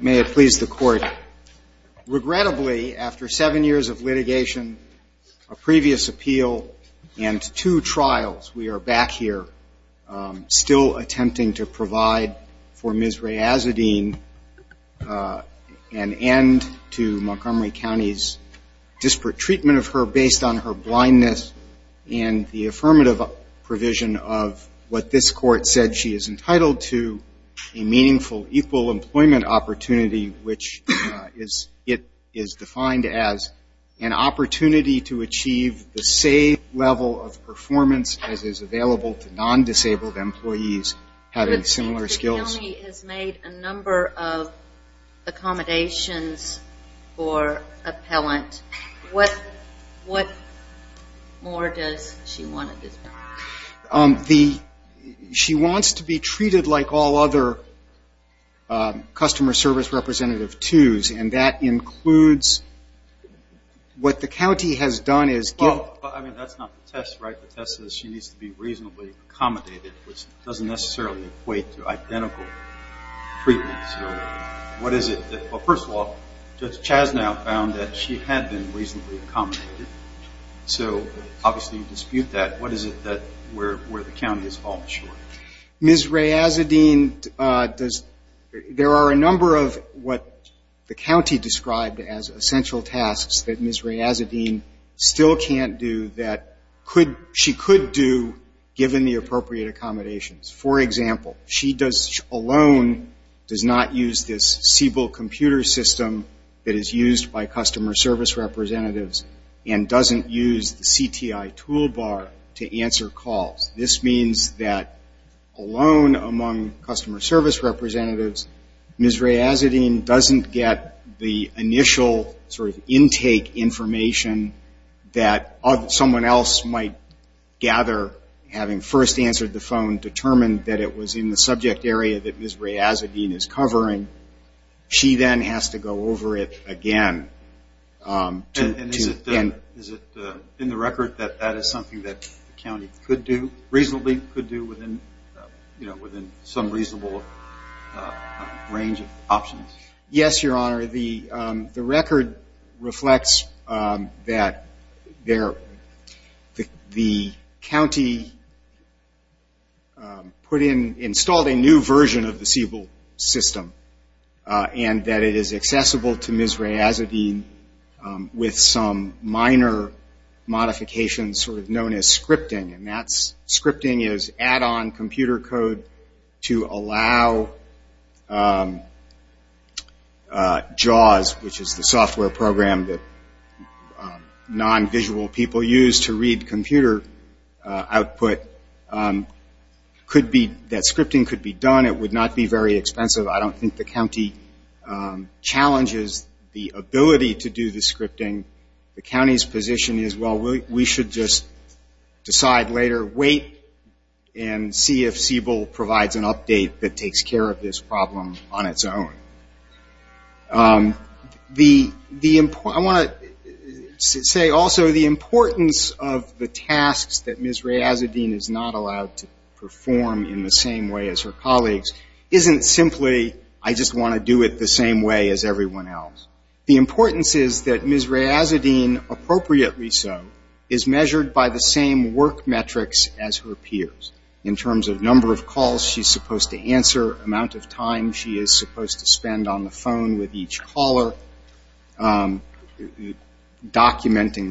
May it please the court. Regrettably after seven years of litigation, a previous appeal, and two trials, we are back here still attempting to provide for Ms. Reyazuddin an end to Montgomery County's disparate treatment of her based on her blindness and the affirmative provision of what this court said she is entitled to a meaningful equal employment opportunity, which it is defined as an opportunity to achieve the same level of performance as is available to non-disabled employees having similar skills. The county has made a number of accommodations for appellant. What more does she want at this point? She wants to be treated like all other customer service representative twos, and that includes what the county has done is give Well, I mean, that's not the test, right? The test is she needs to be reasonably accommodated, which doesn't necessarily equate to identical treatment. What is it? Well, first of all, Judge Chasnow found that she had been reasonably accommodated, so obviously you dispute that. What is it where the county has fallen short? Ms. Reyazuddin, there are a number of what the county described as essential tasks that Ms. Reyazuddin still can't do that she could do given the appropriate accommodations. For example, she alone does not use this Siebel computer system that is used by customer service representatives and doesn't use the CTI toolbar to answer calls. This means that alone among customer service representatives, Ms. Reyazuddin doesn't get the initial intake information that someone else might gather having first answered the phone, determined that it was in the subject area that Ms. Reyazuddin is covering. She then has to go over it again. And is it in the record that that is something that the county could do reasonably, could do within, you know, within some reasonable range of options? Yes, Your Honor. The record reflects that the county put in, installed a new version of the Siebel system and that it is accessible to Ms. Reyazuddin with some minor modifications sort of known as scripting. And that's scripting is add-on computer code to allow JAWS, which is the software program that non-visual people use to read computer output, that scripting could be done. It would not be very expensive. I don't think the county challenges the ability to do the scripting. The county's position is, well, we should just decide later, wait and see if Siebel provides an update that takes care of this problem on its own. I want to say also the importance of the tasks that Ms. Reyazuddin is not allowed to perform in the same way as her colleagues isn't simply I just want to do it the same way as everyone else. The importance is that Ms. Reyazuddin is measured by the same work metrics as her peers in terms of number of calls she's supposed to answer, amount of time she is supposed to spend on the phone with each caller, documenting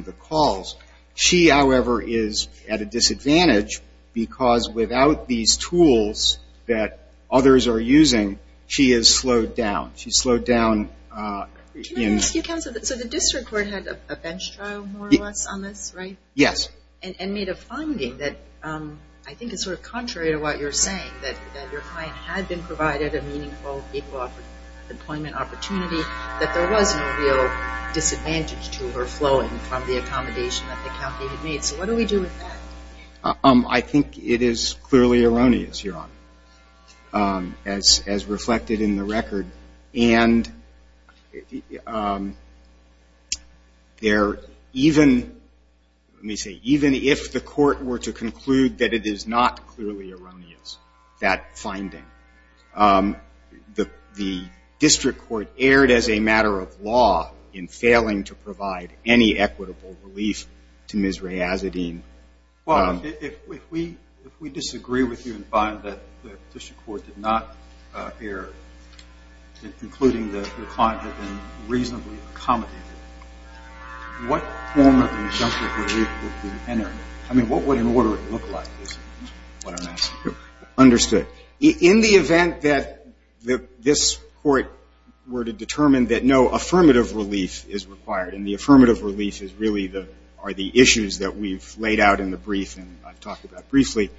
the calls. She, however, is at a disadvantage because without these tools that others are using, she is slowed down. She's slowed down in the way that she's supposed to answer. So the district court had a bench trial more or less on this, right? Yes. And made a finding that I think is sort of contrary to what you're saying that your client had been provided a meaningful equal employment opportunity, that there was no real disadvantage to her flowing from the accommodation that the county had made. So what do we do with that? I think it is clearly erroneous, Your Honor, as reflected in the record. And even if the court were to conclude that it is not clearly erroneous, that finding, the district court erred as a matter of law in failing to If we disagree with you and find that the district court did not err, including that your client had been reasonably accommodated, what form of injunctive relief would be entered? I mean, what would an order look like? Understood. In the event that this court were to determine that no affirmative relief is required, and the affirmative relief is really are the talk about briefly,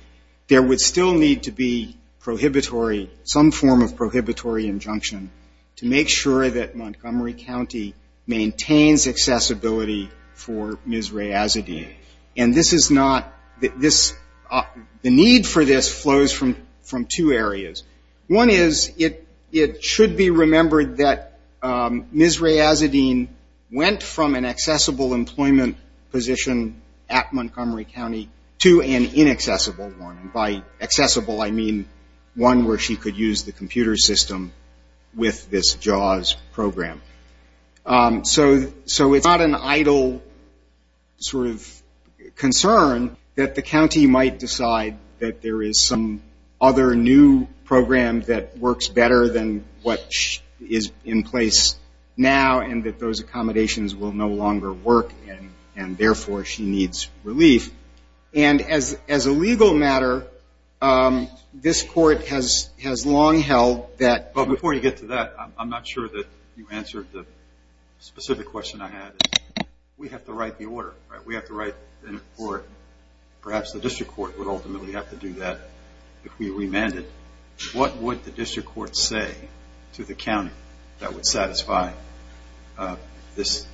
there would still need to be prohibitory, some form of prohibitory injunction to make sure that Montgomery County maintains accessibility for Ms. Rae Azzedine. And this is not, the need for this flows from two areas. One is it should be remembered that Ms. Rae Azzedine went from an accessible employment position at Montgomery County to an inaccessible one. And by accessible, I mean one where she could use the computer system with this JAWS program. So it is not an idle sort of concern that the county might decide that there is some other new program that works better than what is in place now and that those accommodations will no longer work and therefore she needs relief. And as a legal matter, this court has long held that. But before you get to that, I'm not sure that you answered the specific question I had. We have to write the order, right? We have to write the order. Perhaps the district court would ultimately have to do that if we remanded. What would the district court say to the county that would satisfy this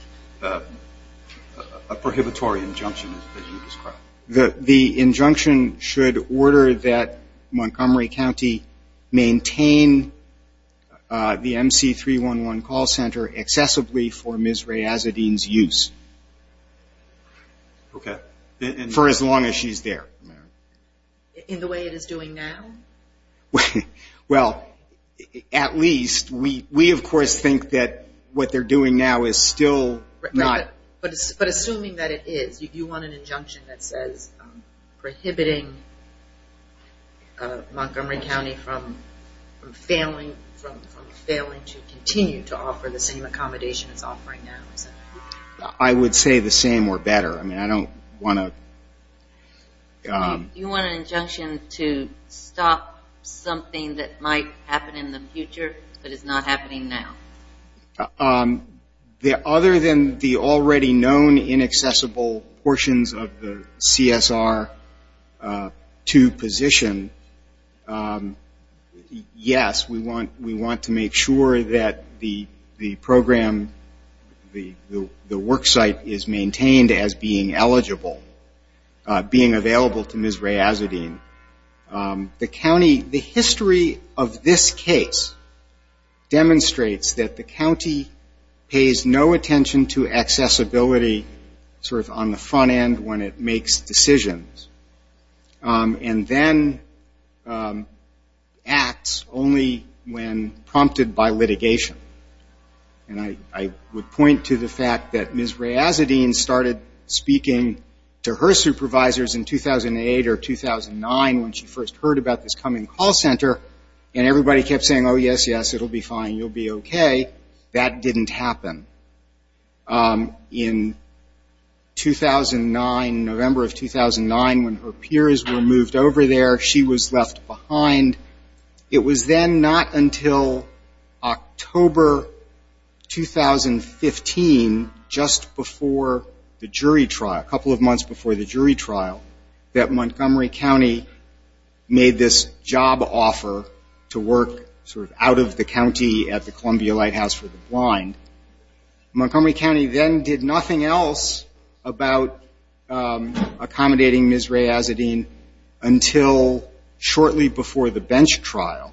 prohibitory injunction that you described? The injunction should order that Montgomery County maintain the MC311 call center excessively for Ms. Rae Azzedine's use. Okay. For as long as she is there. In the way it is doing now? Well, at least, we of course think that what they are doing now is still not But assuming that it is, you want an injunction that says prohibiting Montgomery County from failing to continue to offer the same accommodation it is offering now. I would say the same or better. I don't want to You want an injunction to stop something that might happen in the future but is not happening now? Other than the already known inaccessible portions of the CSR to position, yes, we want to make sure that the program, the work site is maintained as being eligible. Being available to Ms. Rae Azzedine. The county, the history of this case demonstrates that the county pays no hand when it makes decisions. And then acts only when prompted by litigation. And I would point to the fact that Ms. Rae Azzedine started speaking to her supervisors in 2008 or 2009 when she first heard about this coming call center and everybody kept saying, oh, yes, yes, it will be fine, you will be okay. That didn't happen. In 2009, November of 2009 when her peers were moved over there, she was left behind. It was then not until October 2015, just before the jury trial, a couple of months before the jury trial, that Montgomery County made this job offer to work sort of out of the Columbia Lighthouse for the Blind. Montgomery County then did nothing else about accommodating Ms. Rae Azzedine until shortly before the bench trial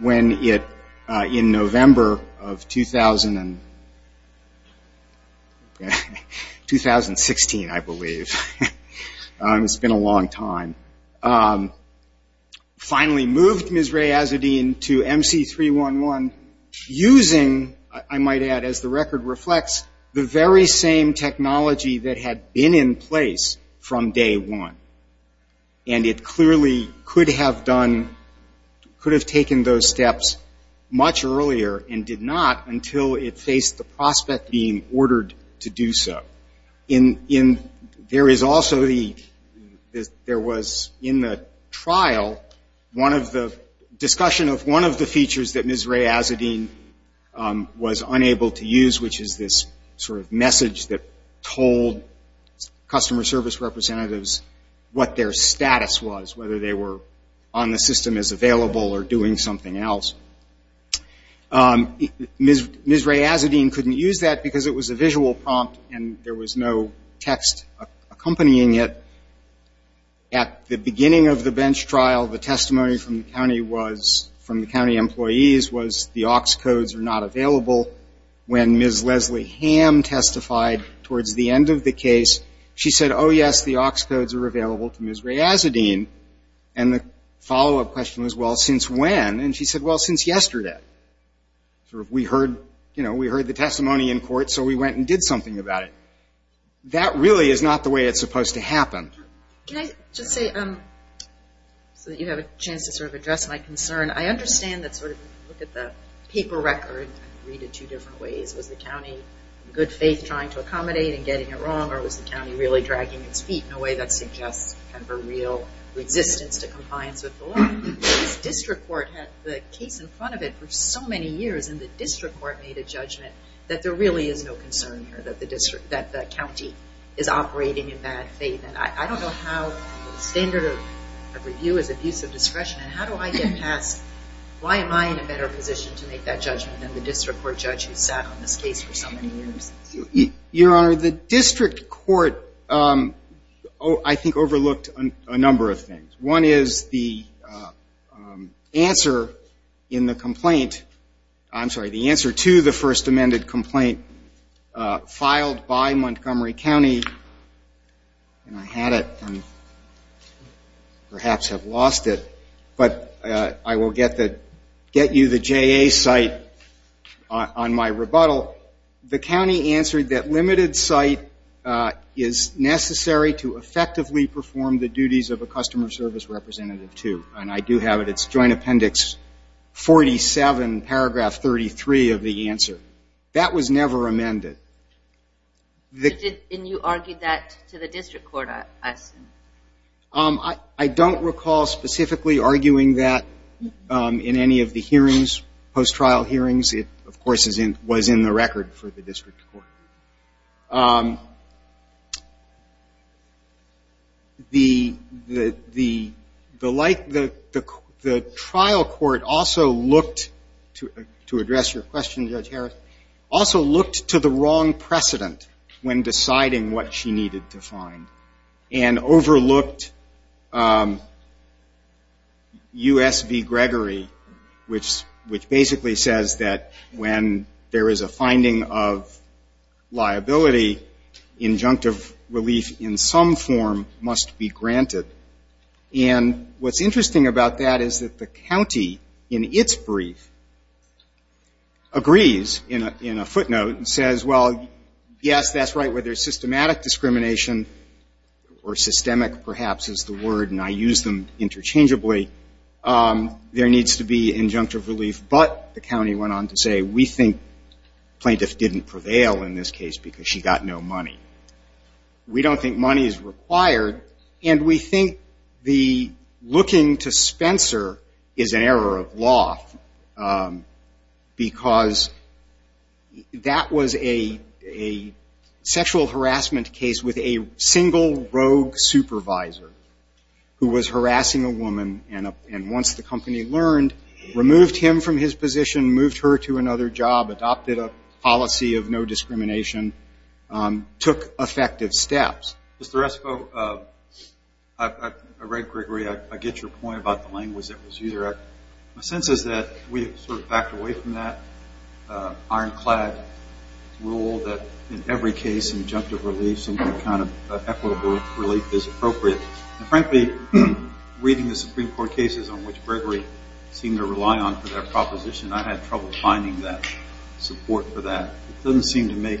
when in November of 2016, I believe, it's been a long time, finally moved Ms. Rae Azzedine to 311 using, I might add, as the record reflects, the very same technology that had been in place from day one. And it clearly could have done, could have taken those steps much earlier and did not until it faced the prospect being ordered to do so. There is also the, there was in the discussion of one of the features that Ms. Rae Azzedine was unable to use, which is this sort of message that told customer service representatives what their status was, whether they were on the system as available or doing something else. Ms. Rae Azzedine couldn't use that because it was a visual prompt and there was no text accompanying it. At the beginning of the bench trial, the testimony from the county was, from the county employees was the aux codes are not available. When Ms. Leslie Hamm testified towards the end of the case, she said, oh, yes, the aux codes are available to Ms. Rae Azzedine. And the follow-up question was, well, since when? And she said, well, since yesterday. We heard the testimony in court, so we went and did something about it. That really is not the way it's supposed to happen. Can I just say, so that you have a chance to sort of address my concern, I understand that sort of, look at the paper record and read it two different ways. Was the county in good faith trying to accommodate and getting it wrong, or was the county really dragging its feet in a way that suggests kind of a real resistance to compliance with the law? This district court had the case in front of it for so many years, and the district court made a judgment that there really is no concern here, that the county is operating in bad faith. And I don't know how standard of review is abuse of discretion, and how do I get past, why am I in a better position to make that judgment than the district court judge who sat on this case for so many years? Your Honor, the district court, I think, overlooked a number of things. One is the answer in the complaint, I'm sorry, the answer to the first amended complaint filed by Montgomery County, and I had it and perhaps have lost it, but I will get you the JA site on my rebuttal. The county answered that limited site is necessary to effectively perform the duties of a customer service representative to, and I do have it, it's joint appendix 47, paragraph 33 of the answer. That was never amended. And you argued that to the district court, I assume? I don't recall specifically arguing that in any of the hearings, post trial hearings. It, of course, was in the record for the district court. The trial court also looked, to address your question, Judge Harris, also looked to the wrong precedent when deciding what she needed to find, and overlooked USV Gregory, which basically says that when there is a liability, injunctive relief in some form must be granted. And what's interesting about that is that the county, in its brief, agrees in a footnote and says, well, yes, that's right, whether systematic discrimination or systemic, perhaps, is the word, and I use them interchangeably, there needs to be injunctive relief, but the county went on to say, we think plaintiff didn't prevail in this case because she got no money. We don't think money is required, and we think the looking to Spencer is an error of law, because that was a sexual harassment case with a single rogue supervisor who was harassing a woman, and once the company learned, removed him from his position, the policy of no discrimination took effective steps. Mr. Esco, I read Gregory, I get your point about the language that was used, my sense is that we sort of backed away from that ironclad rule that in every case, injunctive relief, some kind of equitable relief is appropriate. And frankly, reading the Supreme Court cases on which Gregory seemed to rely on for their proposition, I had trouble finding that support for that. It doesn't seem to make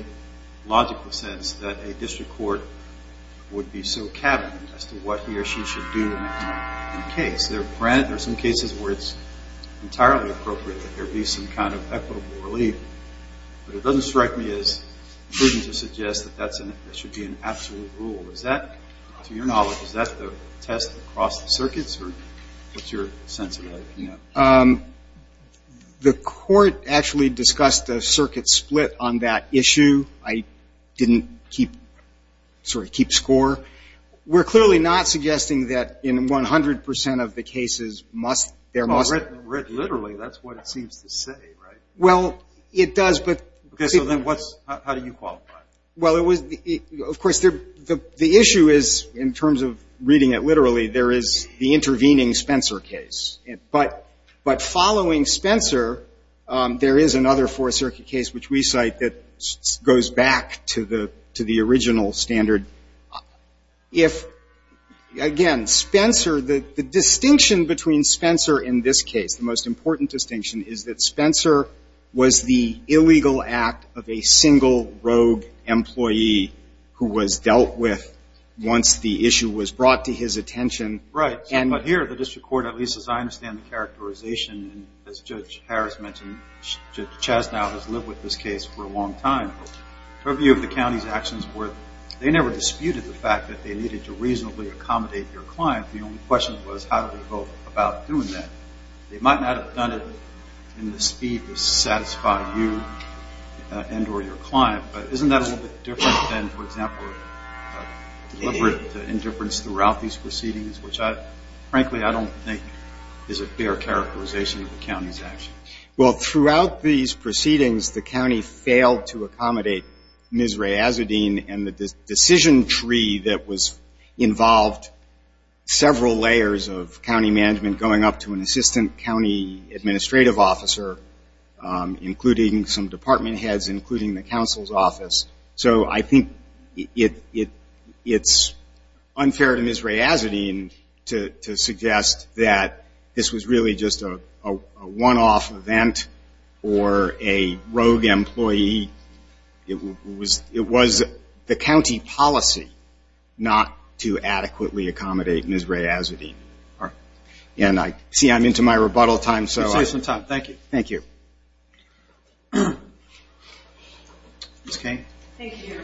logical sense that a district court would be so cabinet as to what he or she should do in a case. There are some cases where it's entirely appropriate that there be some kind of equitable relief, but it doesn't strike me as prudent to suggest that that should be an absolute rule. Is that, to your knowledge, is that the test across the circuits, or what's your sense of that, if you know? The court actually discussed a circuit split on that issue. I didn't keep score. We're clearly not suggesting that in 100% of the cases must, there must be. Well, literally, that's what it seems to say, right? Well, it does, but. Okay, so then what's, how do you qualify? Well, it was, of course, the issue is, in terms of reading it literally, there is the intervening Spencer case. But following Spencer, there is another Fourth Circuit case which we cite that goes back to the original standard. If, again, Spencer, the distinction between Spencer in this case, the most important distinction, is that Spencer was the illegal act of a single rogue employee who was dealt with once the issue was brought to attention. Right. But here, the district court, at least as I understand the characterization, as Judge Harris mentioned, Judge Chastanow has lived with this case for a long time. Her view of the county's actions were they never disputed the fact that they needed to reasonably accommodate your client. The only question was, how do we go about doing that? They might not have done it in the speed that satisfied you and or your client, but isn't that a little bit different than, for example, deliberate indifference throughout these proceedings, which, frankly, I don't think is a fair characterization of the county's actions. Well, throughout these proceedings, the county failed to accommodate Ms. Rae Azzedine and the decision tree that involved several layers of county management going up to an assistant county administrative officer, including some department heads, including the council's I think it's unfair to Ms. Rae Azzedine to suggest that this was really just a one-off event or a rogue employee. It was the county policy not to adequately accommodate Ms. Rae Azzedine. And I see I'm into my rebuttal time. Let's save some time. Thank you. Thank you. Ms. Kane. Thank you.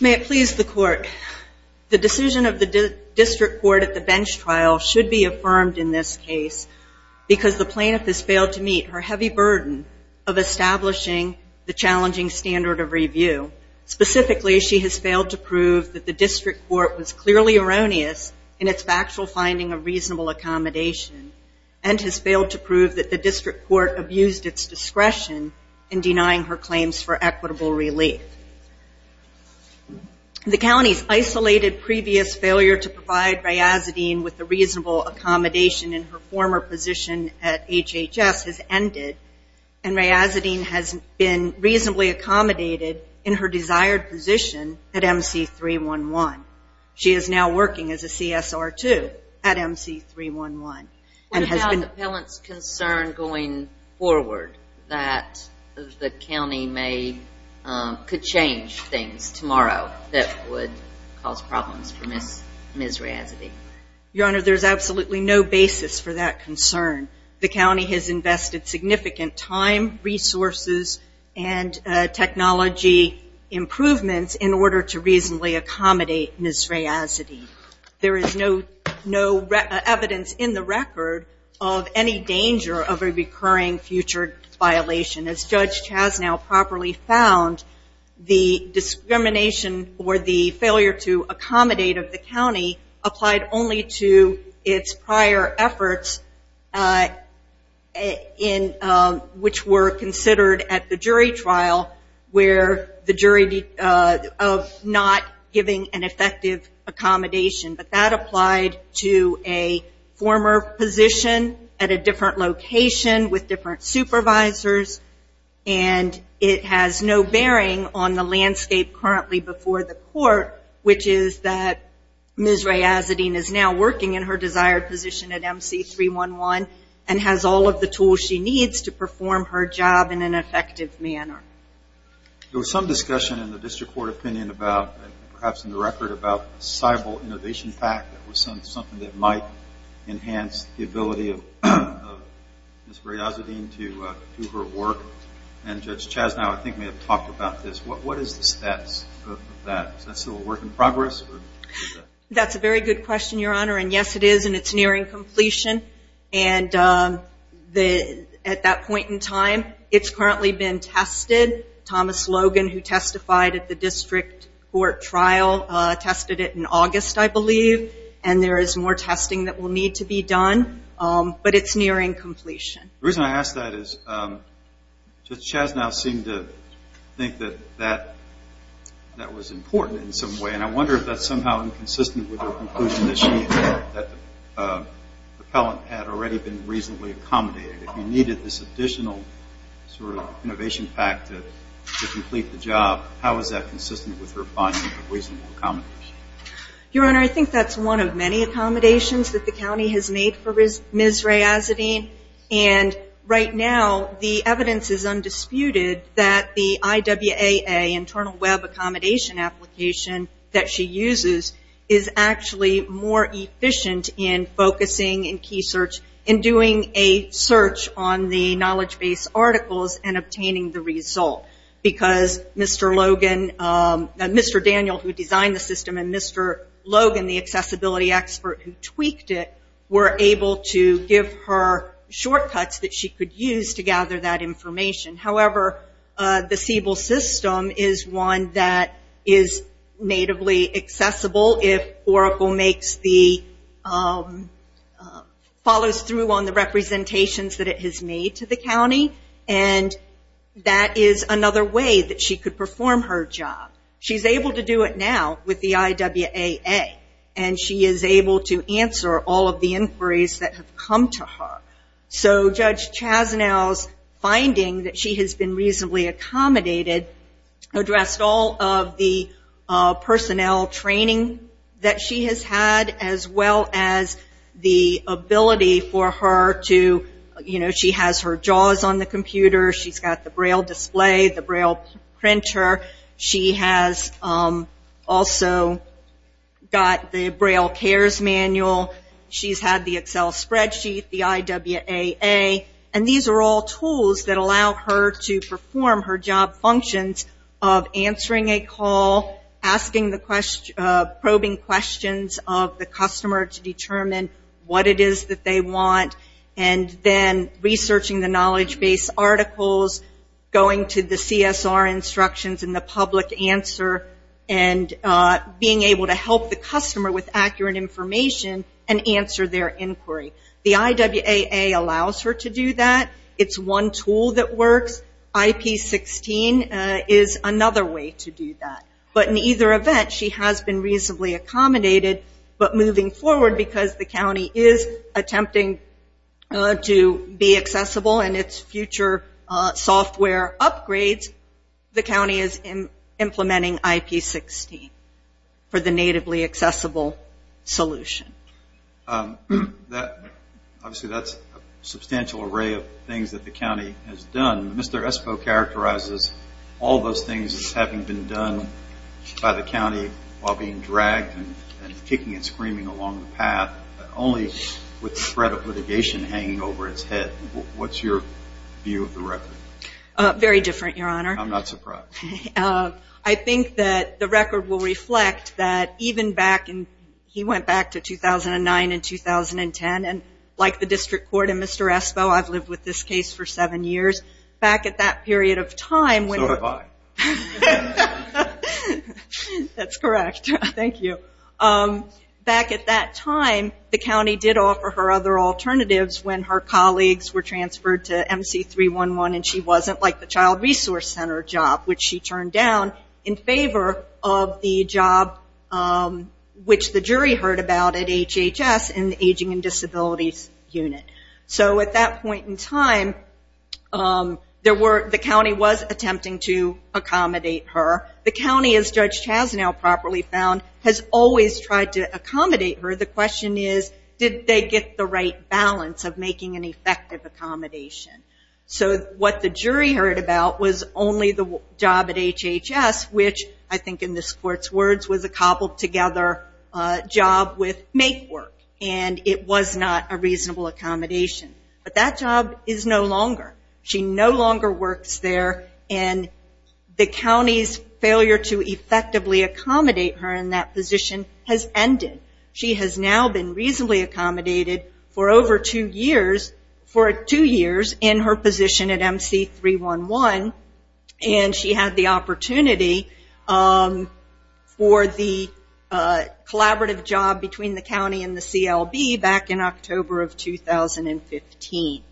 May it please the court, the decision of the district court at the bench trial should be affirmed in this case because the plaintiff has a heavy burden of establishing the challenging standard of review. Specifically, she has failed to prove that the district court was clearly erroneous in its factual finding of reasonable accommodation and has failed to prove that the district court abused its discretion in denying her claims for equitable relief. The county's isolated previous failure to provide Rae Azzedine with and Rae Azzedine has been reasonably accommodated in her desired position at MC311. She is now working as a CSR2 at MC311. What about the appellant's concern going forward that the county may, could change things tomorrow that would cause problems for Ms. Rae Azzedine? Your Honor, there's absolutely no basis for that concern. The county has invested significant time, resources, and technology improvements in order to reasonably accommodate Ms. Rae Azzedine. There is no evidence in the record of any danger of a recurring future violation. As Judge Chasnow properly found, the discrimination or the failure to in, which were considered at the jury trial where the jury of not giving an effective accommodation, but that applied to a former position at a different location with different supervisors and it has no bearing on the landscape currently before the court, which is that Ms. Rae Azzedine is now working in her desired position at MC311 and has all of the tools she needs to perform her job in an effective manner. There was some discussion in the district court opinion about, perhaps in the record, about a civil innovation fact that was something that might enhance the ability of Ms. Rae Azzedine to do her work. And Judge Chasnow, I think, may have talked about this. What is the status of that? Is that still a work in progress? That's a very good question, Your Honor. And yes, it is. And it's currently been tested. Thomas Logan, who testified at the district court trial, tested it in August, I believe. And there is more testing that will need to be done. But it's nearing completion. The reason I ask that is Judge Chasnow seemed to think that that was important in some way. And I wonder if that's somehow inconsistent with her conclusion that the appellant had already been reasonably accommodated. If you needed this additional sort of innovation fact to complete the job, how is that consistent with her finding a reasonable accommodation? Your Honor, I think that's one of many accommodations that the county has made for Ms. Rae Azzedine. And right now, the evidence is undisputed that the IWAA, Internal Web Accommodation Application, that she uses, is actually more efficient in focusing in key search and doing a search on the knowledge-based articles and obtaining the result. Because Mr. Daniel, who designed the system, and Mr. Logan, the accessibility expert who tweaked it, were able to give her shortcuts that she could use to gather that information. However, the Siebel system is one that is natively accessible if Oracle follows through on the representations that it has made to the county. And that is another way that she could perform her job. She's able to do it now with the IWAA. And she is able to answer all of the inquiries that have come to her. So Judge Chasnow's finding that she has been reasonably accommodated addressed all of the personnel training that she has had, as well as the ability for her to, you know, she has her JAWS on the computer. She's got the Braille display, the Braille printer. She has also got the Braille CARES manual. She's had the Excel spreadsheet, the IWAA. And these are all tools that allow her to perform her job functions of answering a call, asking the questions, probing questions of the customer to determine what it is that they want, and then researching the knowledge-based articles, going to the CSR instructions and the customer with accurate information and answer their inquiry. The IWAA allows her to do that. It's one tool that works. IP16 is another way to do that. But in either event, she has been reasonably accommodated. But moving forward, because the county is attempting to be accessible in its future software upgrades, the county is implementing IP16 for the natively accessible solution. Obviously, that's a substantial array of things that the county has done. Mr. Espos characterizes all those things as having been done by the county while being dragged and kicking and screaming along the path, only with the threat of litigation hanging over its head. What's your view of the record? Very different, Your Honor. I'm not surprised. I think that the record will reflect that even back in, he went back to 2009 and 2010, and like the district court and Mr. Espos, I've lived with this case for seven years. Back at that period of time... So have I. That's correct. Thank you. Back at that time, the county did offer her other alternatives when her colleagues were transferred to MC311 and she turned down in favor of the job which the jury heard about at HHS in the Aging and Disabilities Unit. So at that point in time, the county was attempting to accommodate her. The county, as Judge Chasnow properly found, has always tried to accommodate her. The question is, did they get the right balance of making an effective accommodation? So what the jury heard about was only the job at HHS, which I think in this court's words was a cobbled together job with make work, and it was not a reasonable accommodation. But that job is no longer. She no longer works there and the county's failure to effectively accommodate her in that position has ended. She has now been reasonably accommodated for over two years in her position at MC311 and she had the opportunity for the collaborative job between the county and the CLB back in October of 2015.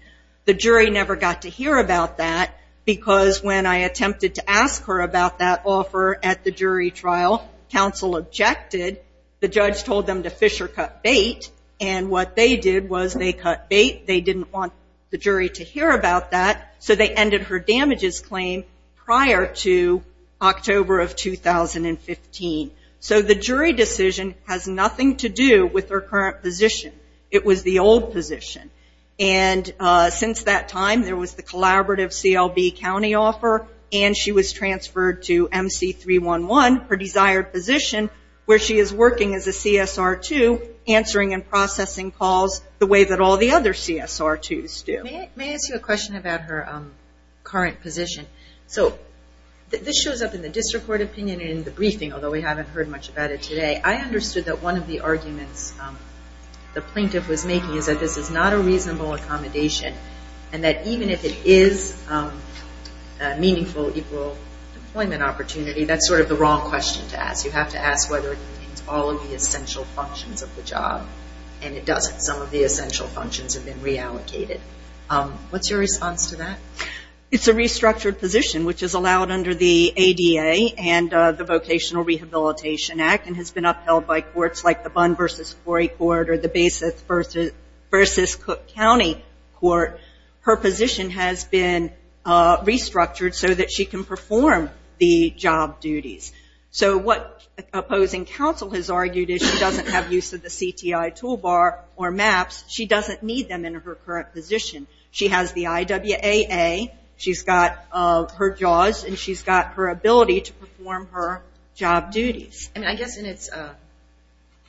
The jury never got to hear about that because when I attempted to ask her about that offer at the jury trial, counsel objected. The judge told them to fissure cut bait and what they did was they cut bait. They didn't want the jury to hear about that, so they ended her damages claim prior to October of 2015. So the jury decision has nothing to do with her current position. It was the old position. Since that time, there was the collaborative CLB county offer and she was transferred to MC311, her desired position, where she is working as a CSR2, answering and interviewing. May I ask you a question about her current position? So this shows up in the district court opinion in the briefing, although we haven't heard much about it today. I understood that one of the arguments the plaintiff was making is that this is not a reasonable accommodation and that even if it is a meaningful, equal employment opportunity, that's sort of the wrong question to ask. You have to ask whether it contains all of the essential functions of the job and it doesn't. Some of the What's your response to that? It's a restructured position, which is allowed under the ADA and the Vocational Rehabilitation Act and has been upheld by courts like the Bunn v. Corey Court or the Basis v. Cook County Court. Her position has been restructured so that she can perform the job duties. So what opposing counsel has argued is she doesn't have use of the CTI toolbar or maps. She doesn't need them in her current position. She has the IWAA. She's got her JAWS and she's got her ability to perform her job duties. I guess in its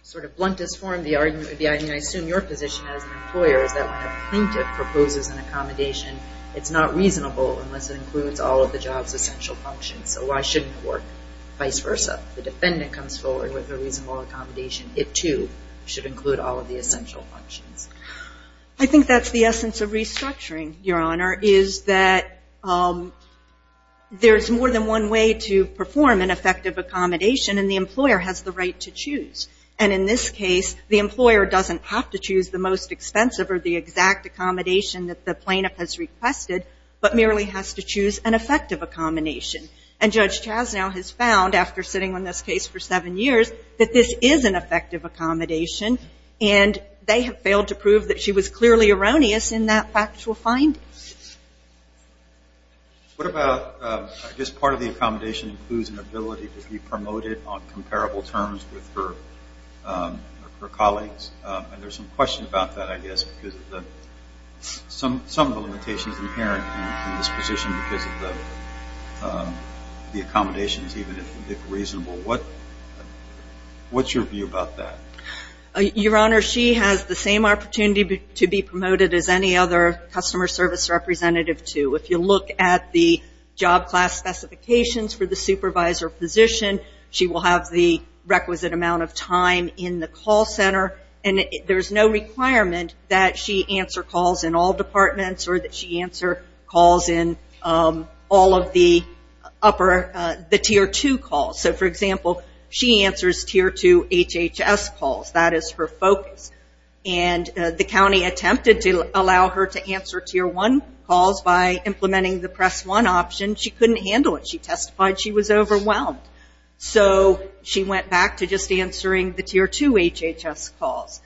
sort of bluntest form, the argument would be, I mean, I assume your position as an employer is that when a plaintiff proposes an accommodation, it's not reasonable unless it includes all of the job's essential functions. So why shouldn't it work vice versa? The defendant comes forward with a reasonable accommodation. It, too, should include all of the essential functions. I think that's the essence of restructuring, Your Honor, is that there's more than one way to perform an effective accommodation and the employer has the right to choose. And in this case, the employer doesn't have to choose the most expensive or the exact accommodation that the plaintiff has requested, but merely has to choose an effective accommodation. And Judge Chasnow has found, after sitting on this case for seven years, that this is an effective accommodation. And they have failed to prove that she was clearly erroneous in that factual finding. What about, I guess, part of the accommodation includes an ability to be promoted on comparable terms with her colleagues? And there's some question about that, I guess, because some of the limitations inherent in this position because of the accommodations, even if reasonable. What's your view about that? Your Honor, she has the same opportunity to be promoted as any other customer service representative to. If you look at the job class specifications for the supervisor position, she will have the requisite amount of time in the call center. And there's no requirement that she answer calls in all departments or that she answer calls in all of the tier two calls. So, for example, she answers tier two HHS calls. That is her focus. And the county attempted to allow her to answer tier one calls by implementing the press one option. She couldn't handle it. She testified she was overwhelmed. So, she went back to just answering the tier two HHS calls.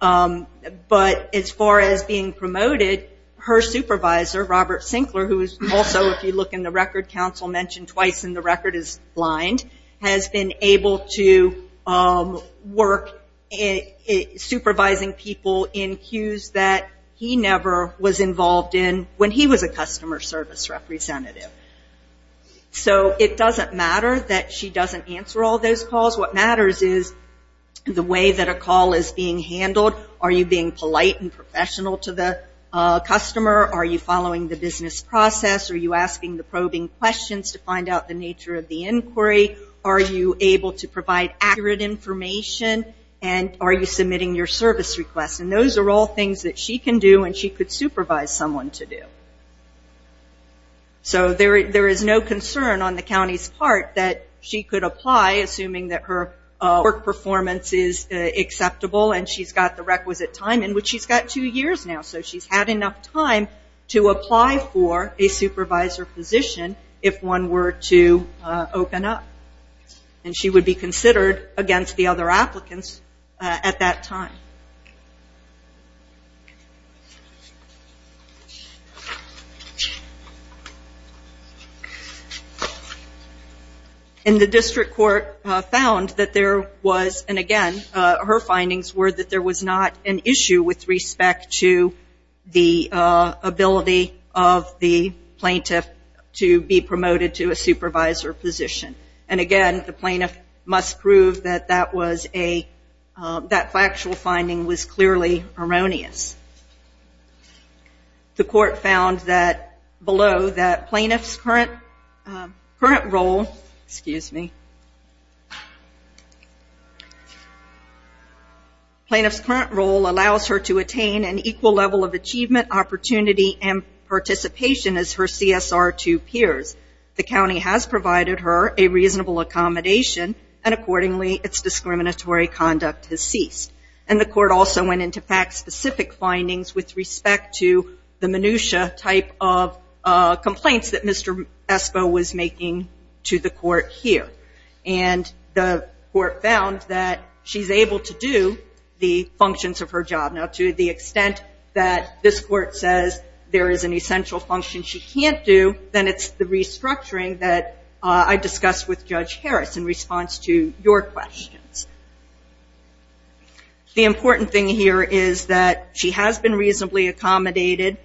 But as far as being promoted, her supervisor, Robert Sinclair, who is also, if you look in the record, counsel mentioned twice in the record, is blind, has been able to work supervising people in queues that he never was involved in when he was a customer service representative. So, it doesn't matter that she doesn't answer all those calls. What matters is the way that a call is being handled. Are you being polite and are you asking the probing questions to find out the nature of the inquiry? Are you able to provide accurate information? And are you submitting your service requests? And those are all things that she can do and she could supervise someone to do. So, there is no concern on the county's part that she could apply, assuming that her work performance is acceptable and she's got the requisite time in which she's got two years now. So, she's had enough time to apply for a supervisor position if one were to open up. And she would be considered against the other applicants at that time. And the district court found that there was, and again, her findings were that there was not an issue with respect to the ability of the plaintiff to be promoted to a supervisor position. And again, the plaintiff must prove that that was a, that factual finding was clearly erroneous. The court found that below that plaintiff's current role, excuse me, plaintiff's current role allows her to attain an equal level of achievement, opportunity, and participation as her CSR2 peers. The county has provided her a reasonable accommodation and accordingly its discriminatory conduct has ceased. And the court also went into fact specific findings with respect to the minutiae type of complaints that the court found that she's able to do the functions of her job. Now, to the extent that this court says there is an essential function she can't do, then it's the restructuring that I discussed with Judge Harris in response to your questions. The important thing here is that she has been reasonably accommodated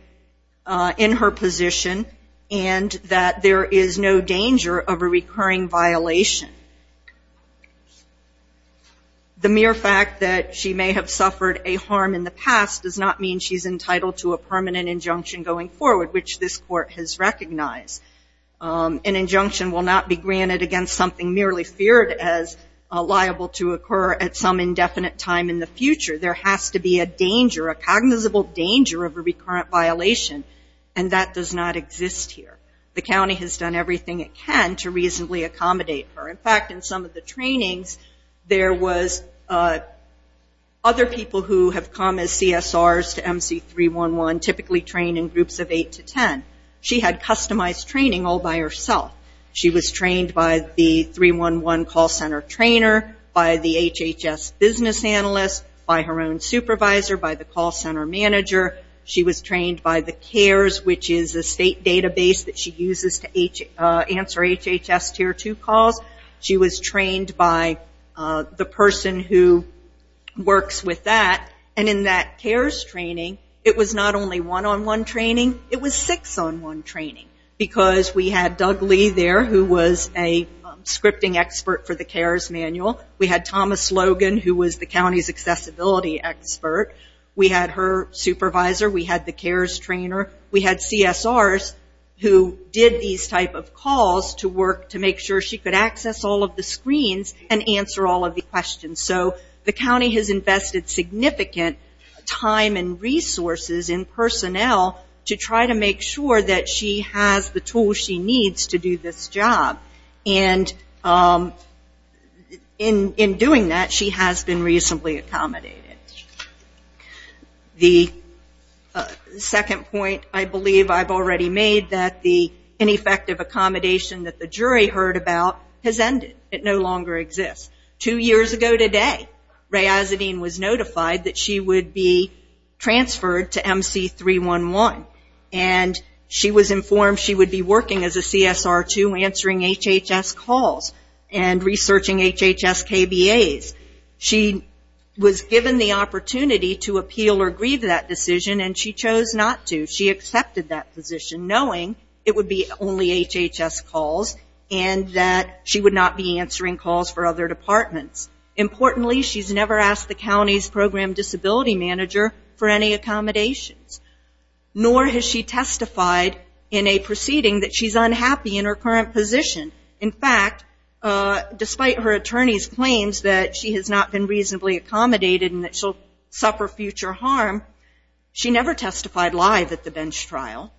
in her position and that there is no danger of a recurring violation. The mere fact that she may have suffered a harm in the past does not mean she's entitled to a permanent injunction going forward, which this court has recognized. An injunction will not be granted against something merely feared as liable to occur at some indefinite time in the future. There has to be a danger, a cognizable danger of a recurrent violation and that does not exist here. The county has done everything it can to reasonably accommodate her. In fact, in some of the trainings there was other people who have come as CSRs to MC311 typically trained in groups of 8 to 10. She had customized training all by herself. She was trained by the 311 call center trainer, by the HHS business analyst, by her own supervisor, by the call center manager. She was trained by the CARES, which is a state database that she uses to answer HHS tier 2 calls. She was trained by the person who works with that. In that CARES training, it was not only one-on-one training, it was six-on-one training because we had Doug Lee there who was a scripting expert for the CARES manual. We had Thomas Logan who was the county's accessibility expert. We had her supervisor. We had the CARES trainer. We had CSRs who did these type of calls to work to make sure she could access all of the screens and answer all of the questions. The county has invested significant time and resources and personnel to try to make sure that she has the tools she needs to do this job. In doing that, she has been reasonably accommodated. The second point I believe I've already made that the ineffective accommodation that the jury heard about has ended. It no longer exists. Two years ago today, Rae Azzedine was notified that she would be transferred to MC311. She was informed she would be working as a CSR2 answering HHS calls and researching HHS KBAs. She was given the opportunity to appeal or agree to that decision and she chose not to. She accepted that position knowing it would be only HHS calls and that she would not be answering calls for other departments. Importantly, she has never asked the county's program disability manager for any accommodations. Nor has she testified. In fact, despite her attorney's claims that she has not been reasonably accommodated and that she'll suffer future harm, she never testified live at the bench trial.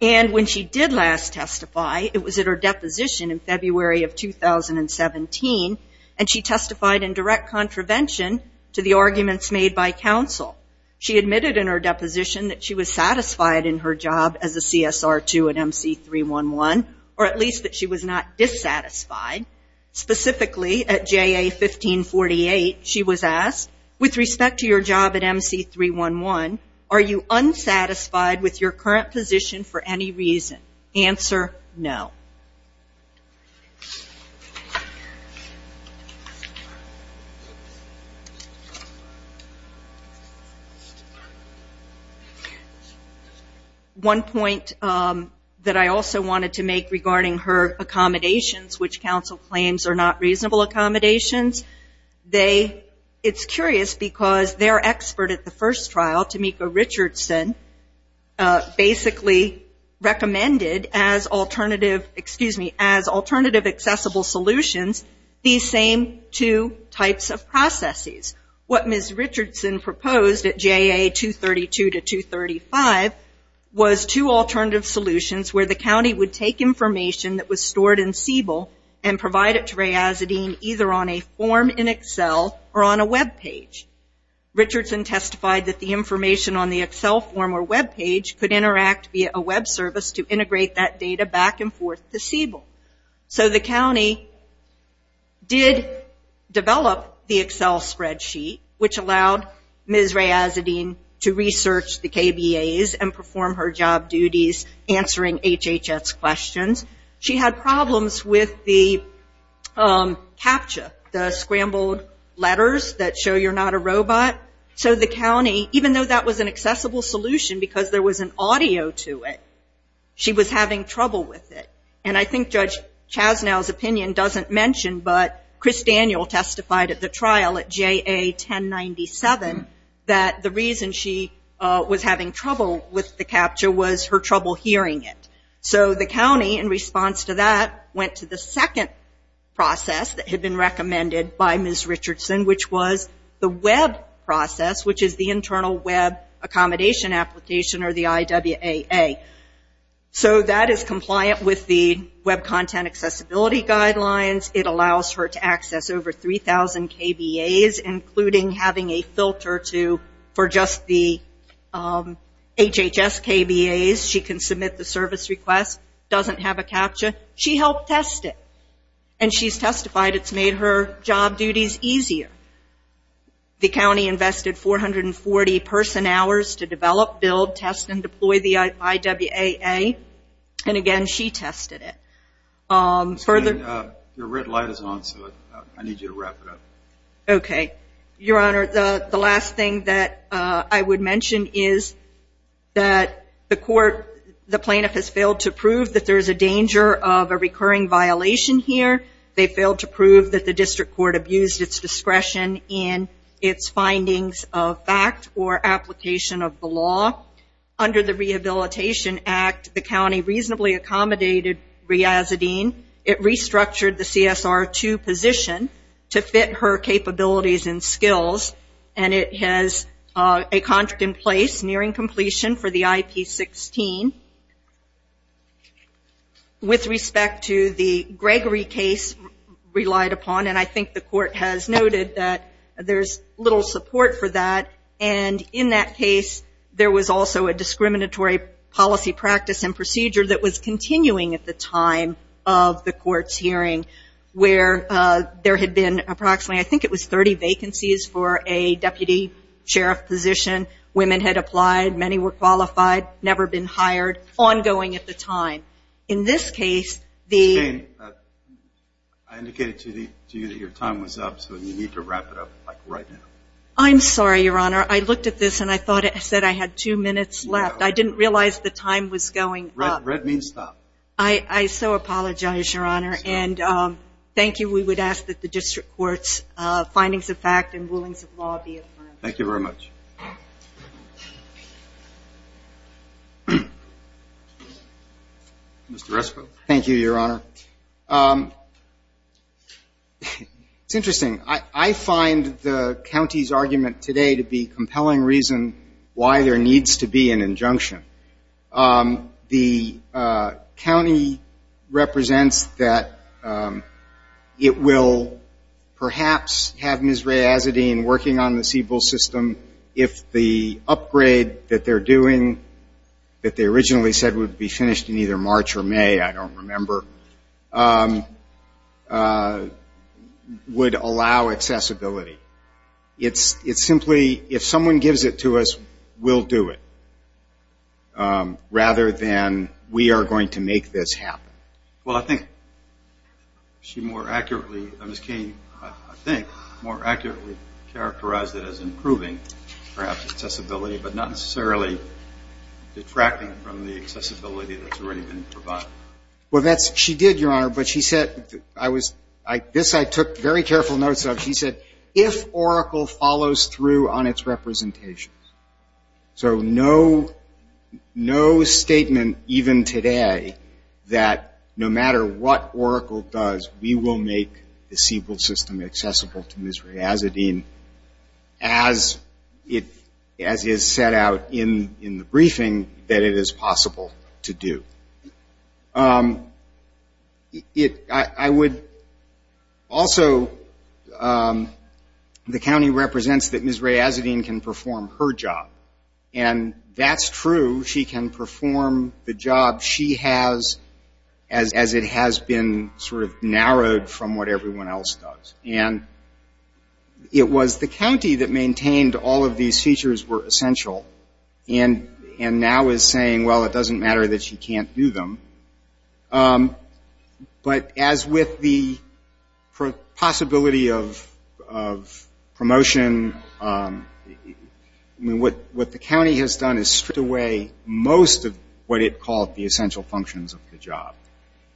When she did last testify, it was at her deposition in February of 2017. She testified in direct contravention to the arguments made by counsel. She admitted in her deposition that she was satisfied in her job as a CSR2 at MC311, or at least not dissatisfied. Specifically, at JA1548, she was asked, with respect to your job at MC311, are you unsatisfied with your current position for any reason? Answer, no. One point that I also wanted to make regarding her accommodations, which counsel claims are not reasonable accommodations, it's curious because their expert at the first trial, Tomiko Richardson, basically recommended as alternative accessible solutions, these same two types of processes. What Ms. Richardson proposed at JA232 to 235 was two alternative solutions where the county would take information that was stored in Siebel and provide it to Ray Azzedine, either on a form in Excel or on a web page. Richardson testified that the information on Siebel was stored in Siebel. The county did develop the Excel spreadsheet, which allowed Ms. Ray Azzedine to research the KBAs and perform her job duties answering HHS questions. She had problems with the CAPTCHA, the scrambled letters that show you're not a robot. The county, even though that was an accessible solution because there was an audio to it, she was having trouble with it. I think Judge Chasnow's opinion doesn't mention, but Chris Daniel testified at the trial at JA1097, that the reason she was having trouble with the CAPTCHA was her trouble hearing it. The county, in response to that, went to the second process that had been recommended by the Web Accommodation Application, or the IWAA. That is compliant with the Web Content Accessibility Guidelines. It allows her to access over 3,000 KBAs, including having a filter for just the HHS KBAs. She can submit the service requests. Doesn't have a CAPTCHA. She helped test it. She's testified it's made her job duties easier. The county invested 440 person hours to develop, build, test, and deploy the IWAA. Again, she tested it. Your red light is on, so I need you to wrap it up. Okay. Your Honor, the last thing that I would mention is that the court, the plaintiff has failed to prove that there's a danger of a recurring violation here. They failed to prove that the district court abused its discretion in its findings of fact or application of the law. Under the Rehabilitation Act, the county reasonably accommodated Riazadeen. It restructured the CSR2 position to fit her capabilities and skills, and it has a contract in place nearing completion for the IP16. With respect to the Gregory case relied upon, and I think the court has noted that there's little support for that. And in that case, there was also a discriminatory policy practice and procedure that was continuing at the time of the court's hearing where there had been approximately, I think it was 30 vacancies for a deputy sheriff position. Women had applied. Many were qualified. Never been hired. Ongoing at the time. In this case, the... Jane, I indicated to you that your time was up, so you need to wrap it up, like, right now. I'm sorry, Your Honor. I looked at this, and I thought it said I had two minutes left. I didn't realize the time was going up. Red means stop. I so apologize, Your Honor. And thank you. We would ask that the district court's findings of fact and rulings of law be affirmed. Thank you very much. Mr. Rescoe. Thank you, Your Honor. It's interesting. I find the county's argument today to be compelling reason why there needs to be an injunction. The county represents that it will perhaps have Ms. Rae Azzedine working on the Siebel system if the upgrade that they're doing that they originally said would be finished in either March or May, I don't remember, would allow accessibility. It's simply if someone gives it to us, we'll do it, rather than we are going to make this happen. Well, I think she more accurately, Ms. Cain, I think, more accurately characterized it as improving, perhaps, accessibility, but not necessarily detracting from the accessibility that's already been provided. She did, Your Honor, but she said, this I took very careful notes of, she said, if Oracle follows through on its representations, so no statement even today that no matter what Oracle does, we will make the Siebel system accessible to Ms. Rae Azzedine as is set out in the briefing that it is possible to do. I would also, the county represents that Ms. Rae Azzedine can perform her job, and that's true. She can perform the job she has as it has been sort of narrowed from what everyone else does, and it was the county that maintained all of these features were essential, and now is saying, well, it doesn't matter that she can't do them, but as with the possibility of promotion, what the county has done is stripped away most of what it called the essential functions of the job,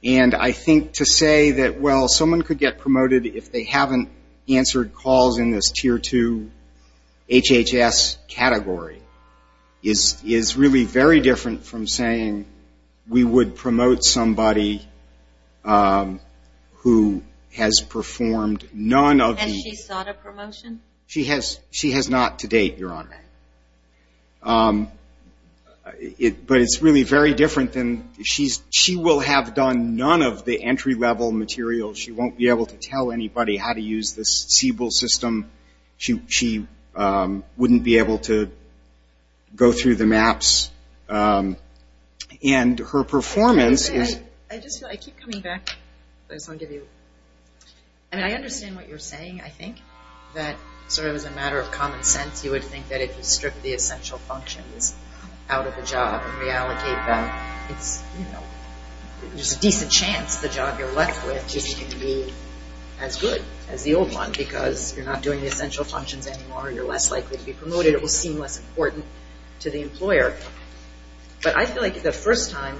and I think to say that, well, someone could get promoted in that category is really very different from saying we would promote somebody who has performed none of the... Has she sought a promotion? She has not to date, Your Honor, but it's really very different than she will have done none of the entry level material. She won't be able to tell you, she won't be able to go through the maps, and her performance is... I just feel like, I keep coming back, I just want to give you, I mean, I understand what you're saying, I think, that sort of as a matter of common sense, you would think that if you strip the essential functions out of the job and reallocate them, it's, you know, there's a decent chance the job you're left with just can be as good as the old one because you're not doing the essential functions anymore, you're less likely to be promoted, it will seem less important to the employer, but I feel like the first time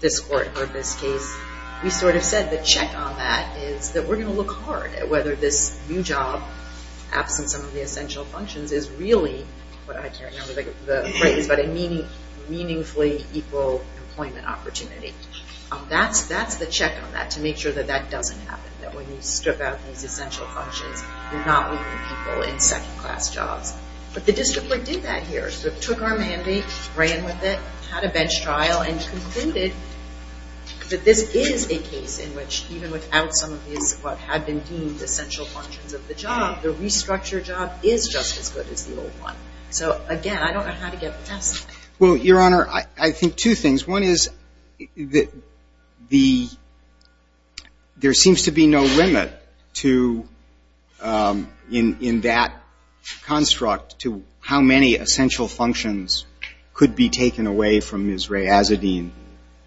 this court heard this case, we sort of said the check on that is that we're going to look hard at whether this new job, absent some of the essential functions, is really what I can't remember the phrase, but a meaningfully equal employment opportunity. That's the check on that, to make sure that that doesn't happen, that when you strip out these essential functions, you're not leaving people in second class jobs. But the district court did that here, took our mandate, ran with it, had a bench trial, and concluded that this is a case in which even without some of these what had been deemed essential functions of the job, the restructured job is just as good as the old one. So, again, I don't know how to get past that. Well, Your Honor, I think two things. One is the – there seems to be no limit to – in that construct to how many essential functions could be taken away from Ms. Rae Azzedine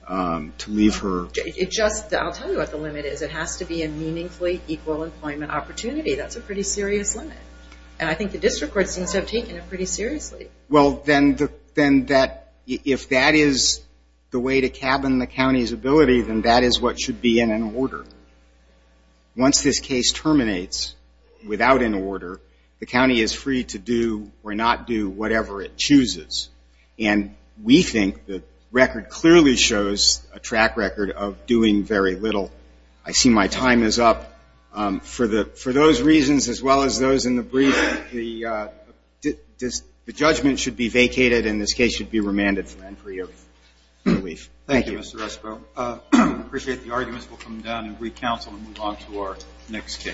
to leave her. It just – I'll tell you what the limit is. It has to be a meaningfully equal employment opportunity. That's a pretty serious limit. And I think the district court seems to have taken it pretty seriously. Well, then that – if that is the way to cabin the county's ability, then that is what should be in an order. Once this case terminates without an order, the county is free to do or not do whatever it chooses. And we think the record clearly shows a track record of doing very little. I see my time is up. For those reasons as well as those in the brief, the judgment should be vacated and this case should be remanded for entry of relief. Thank you. Thank you, Mr. Resko. I appreciate the arguments. We'll come down and re-counsel and move on to our next case.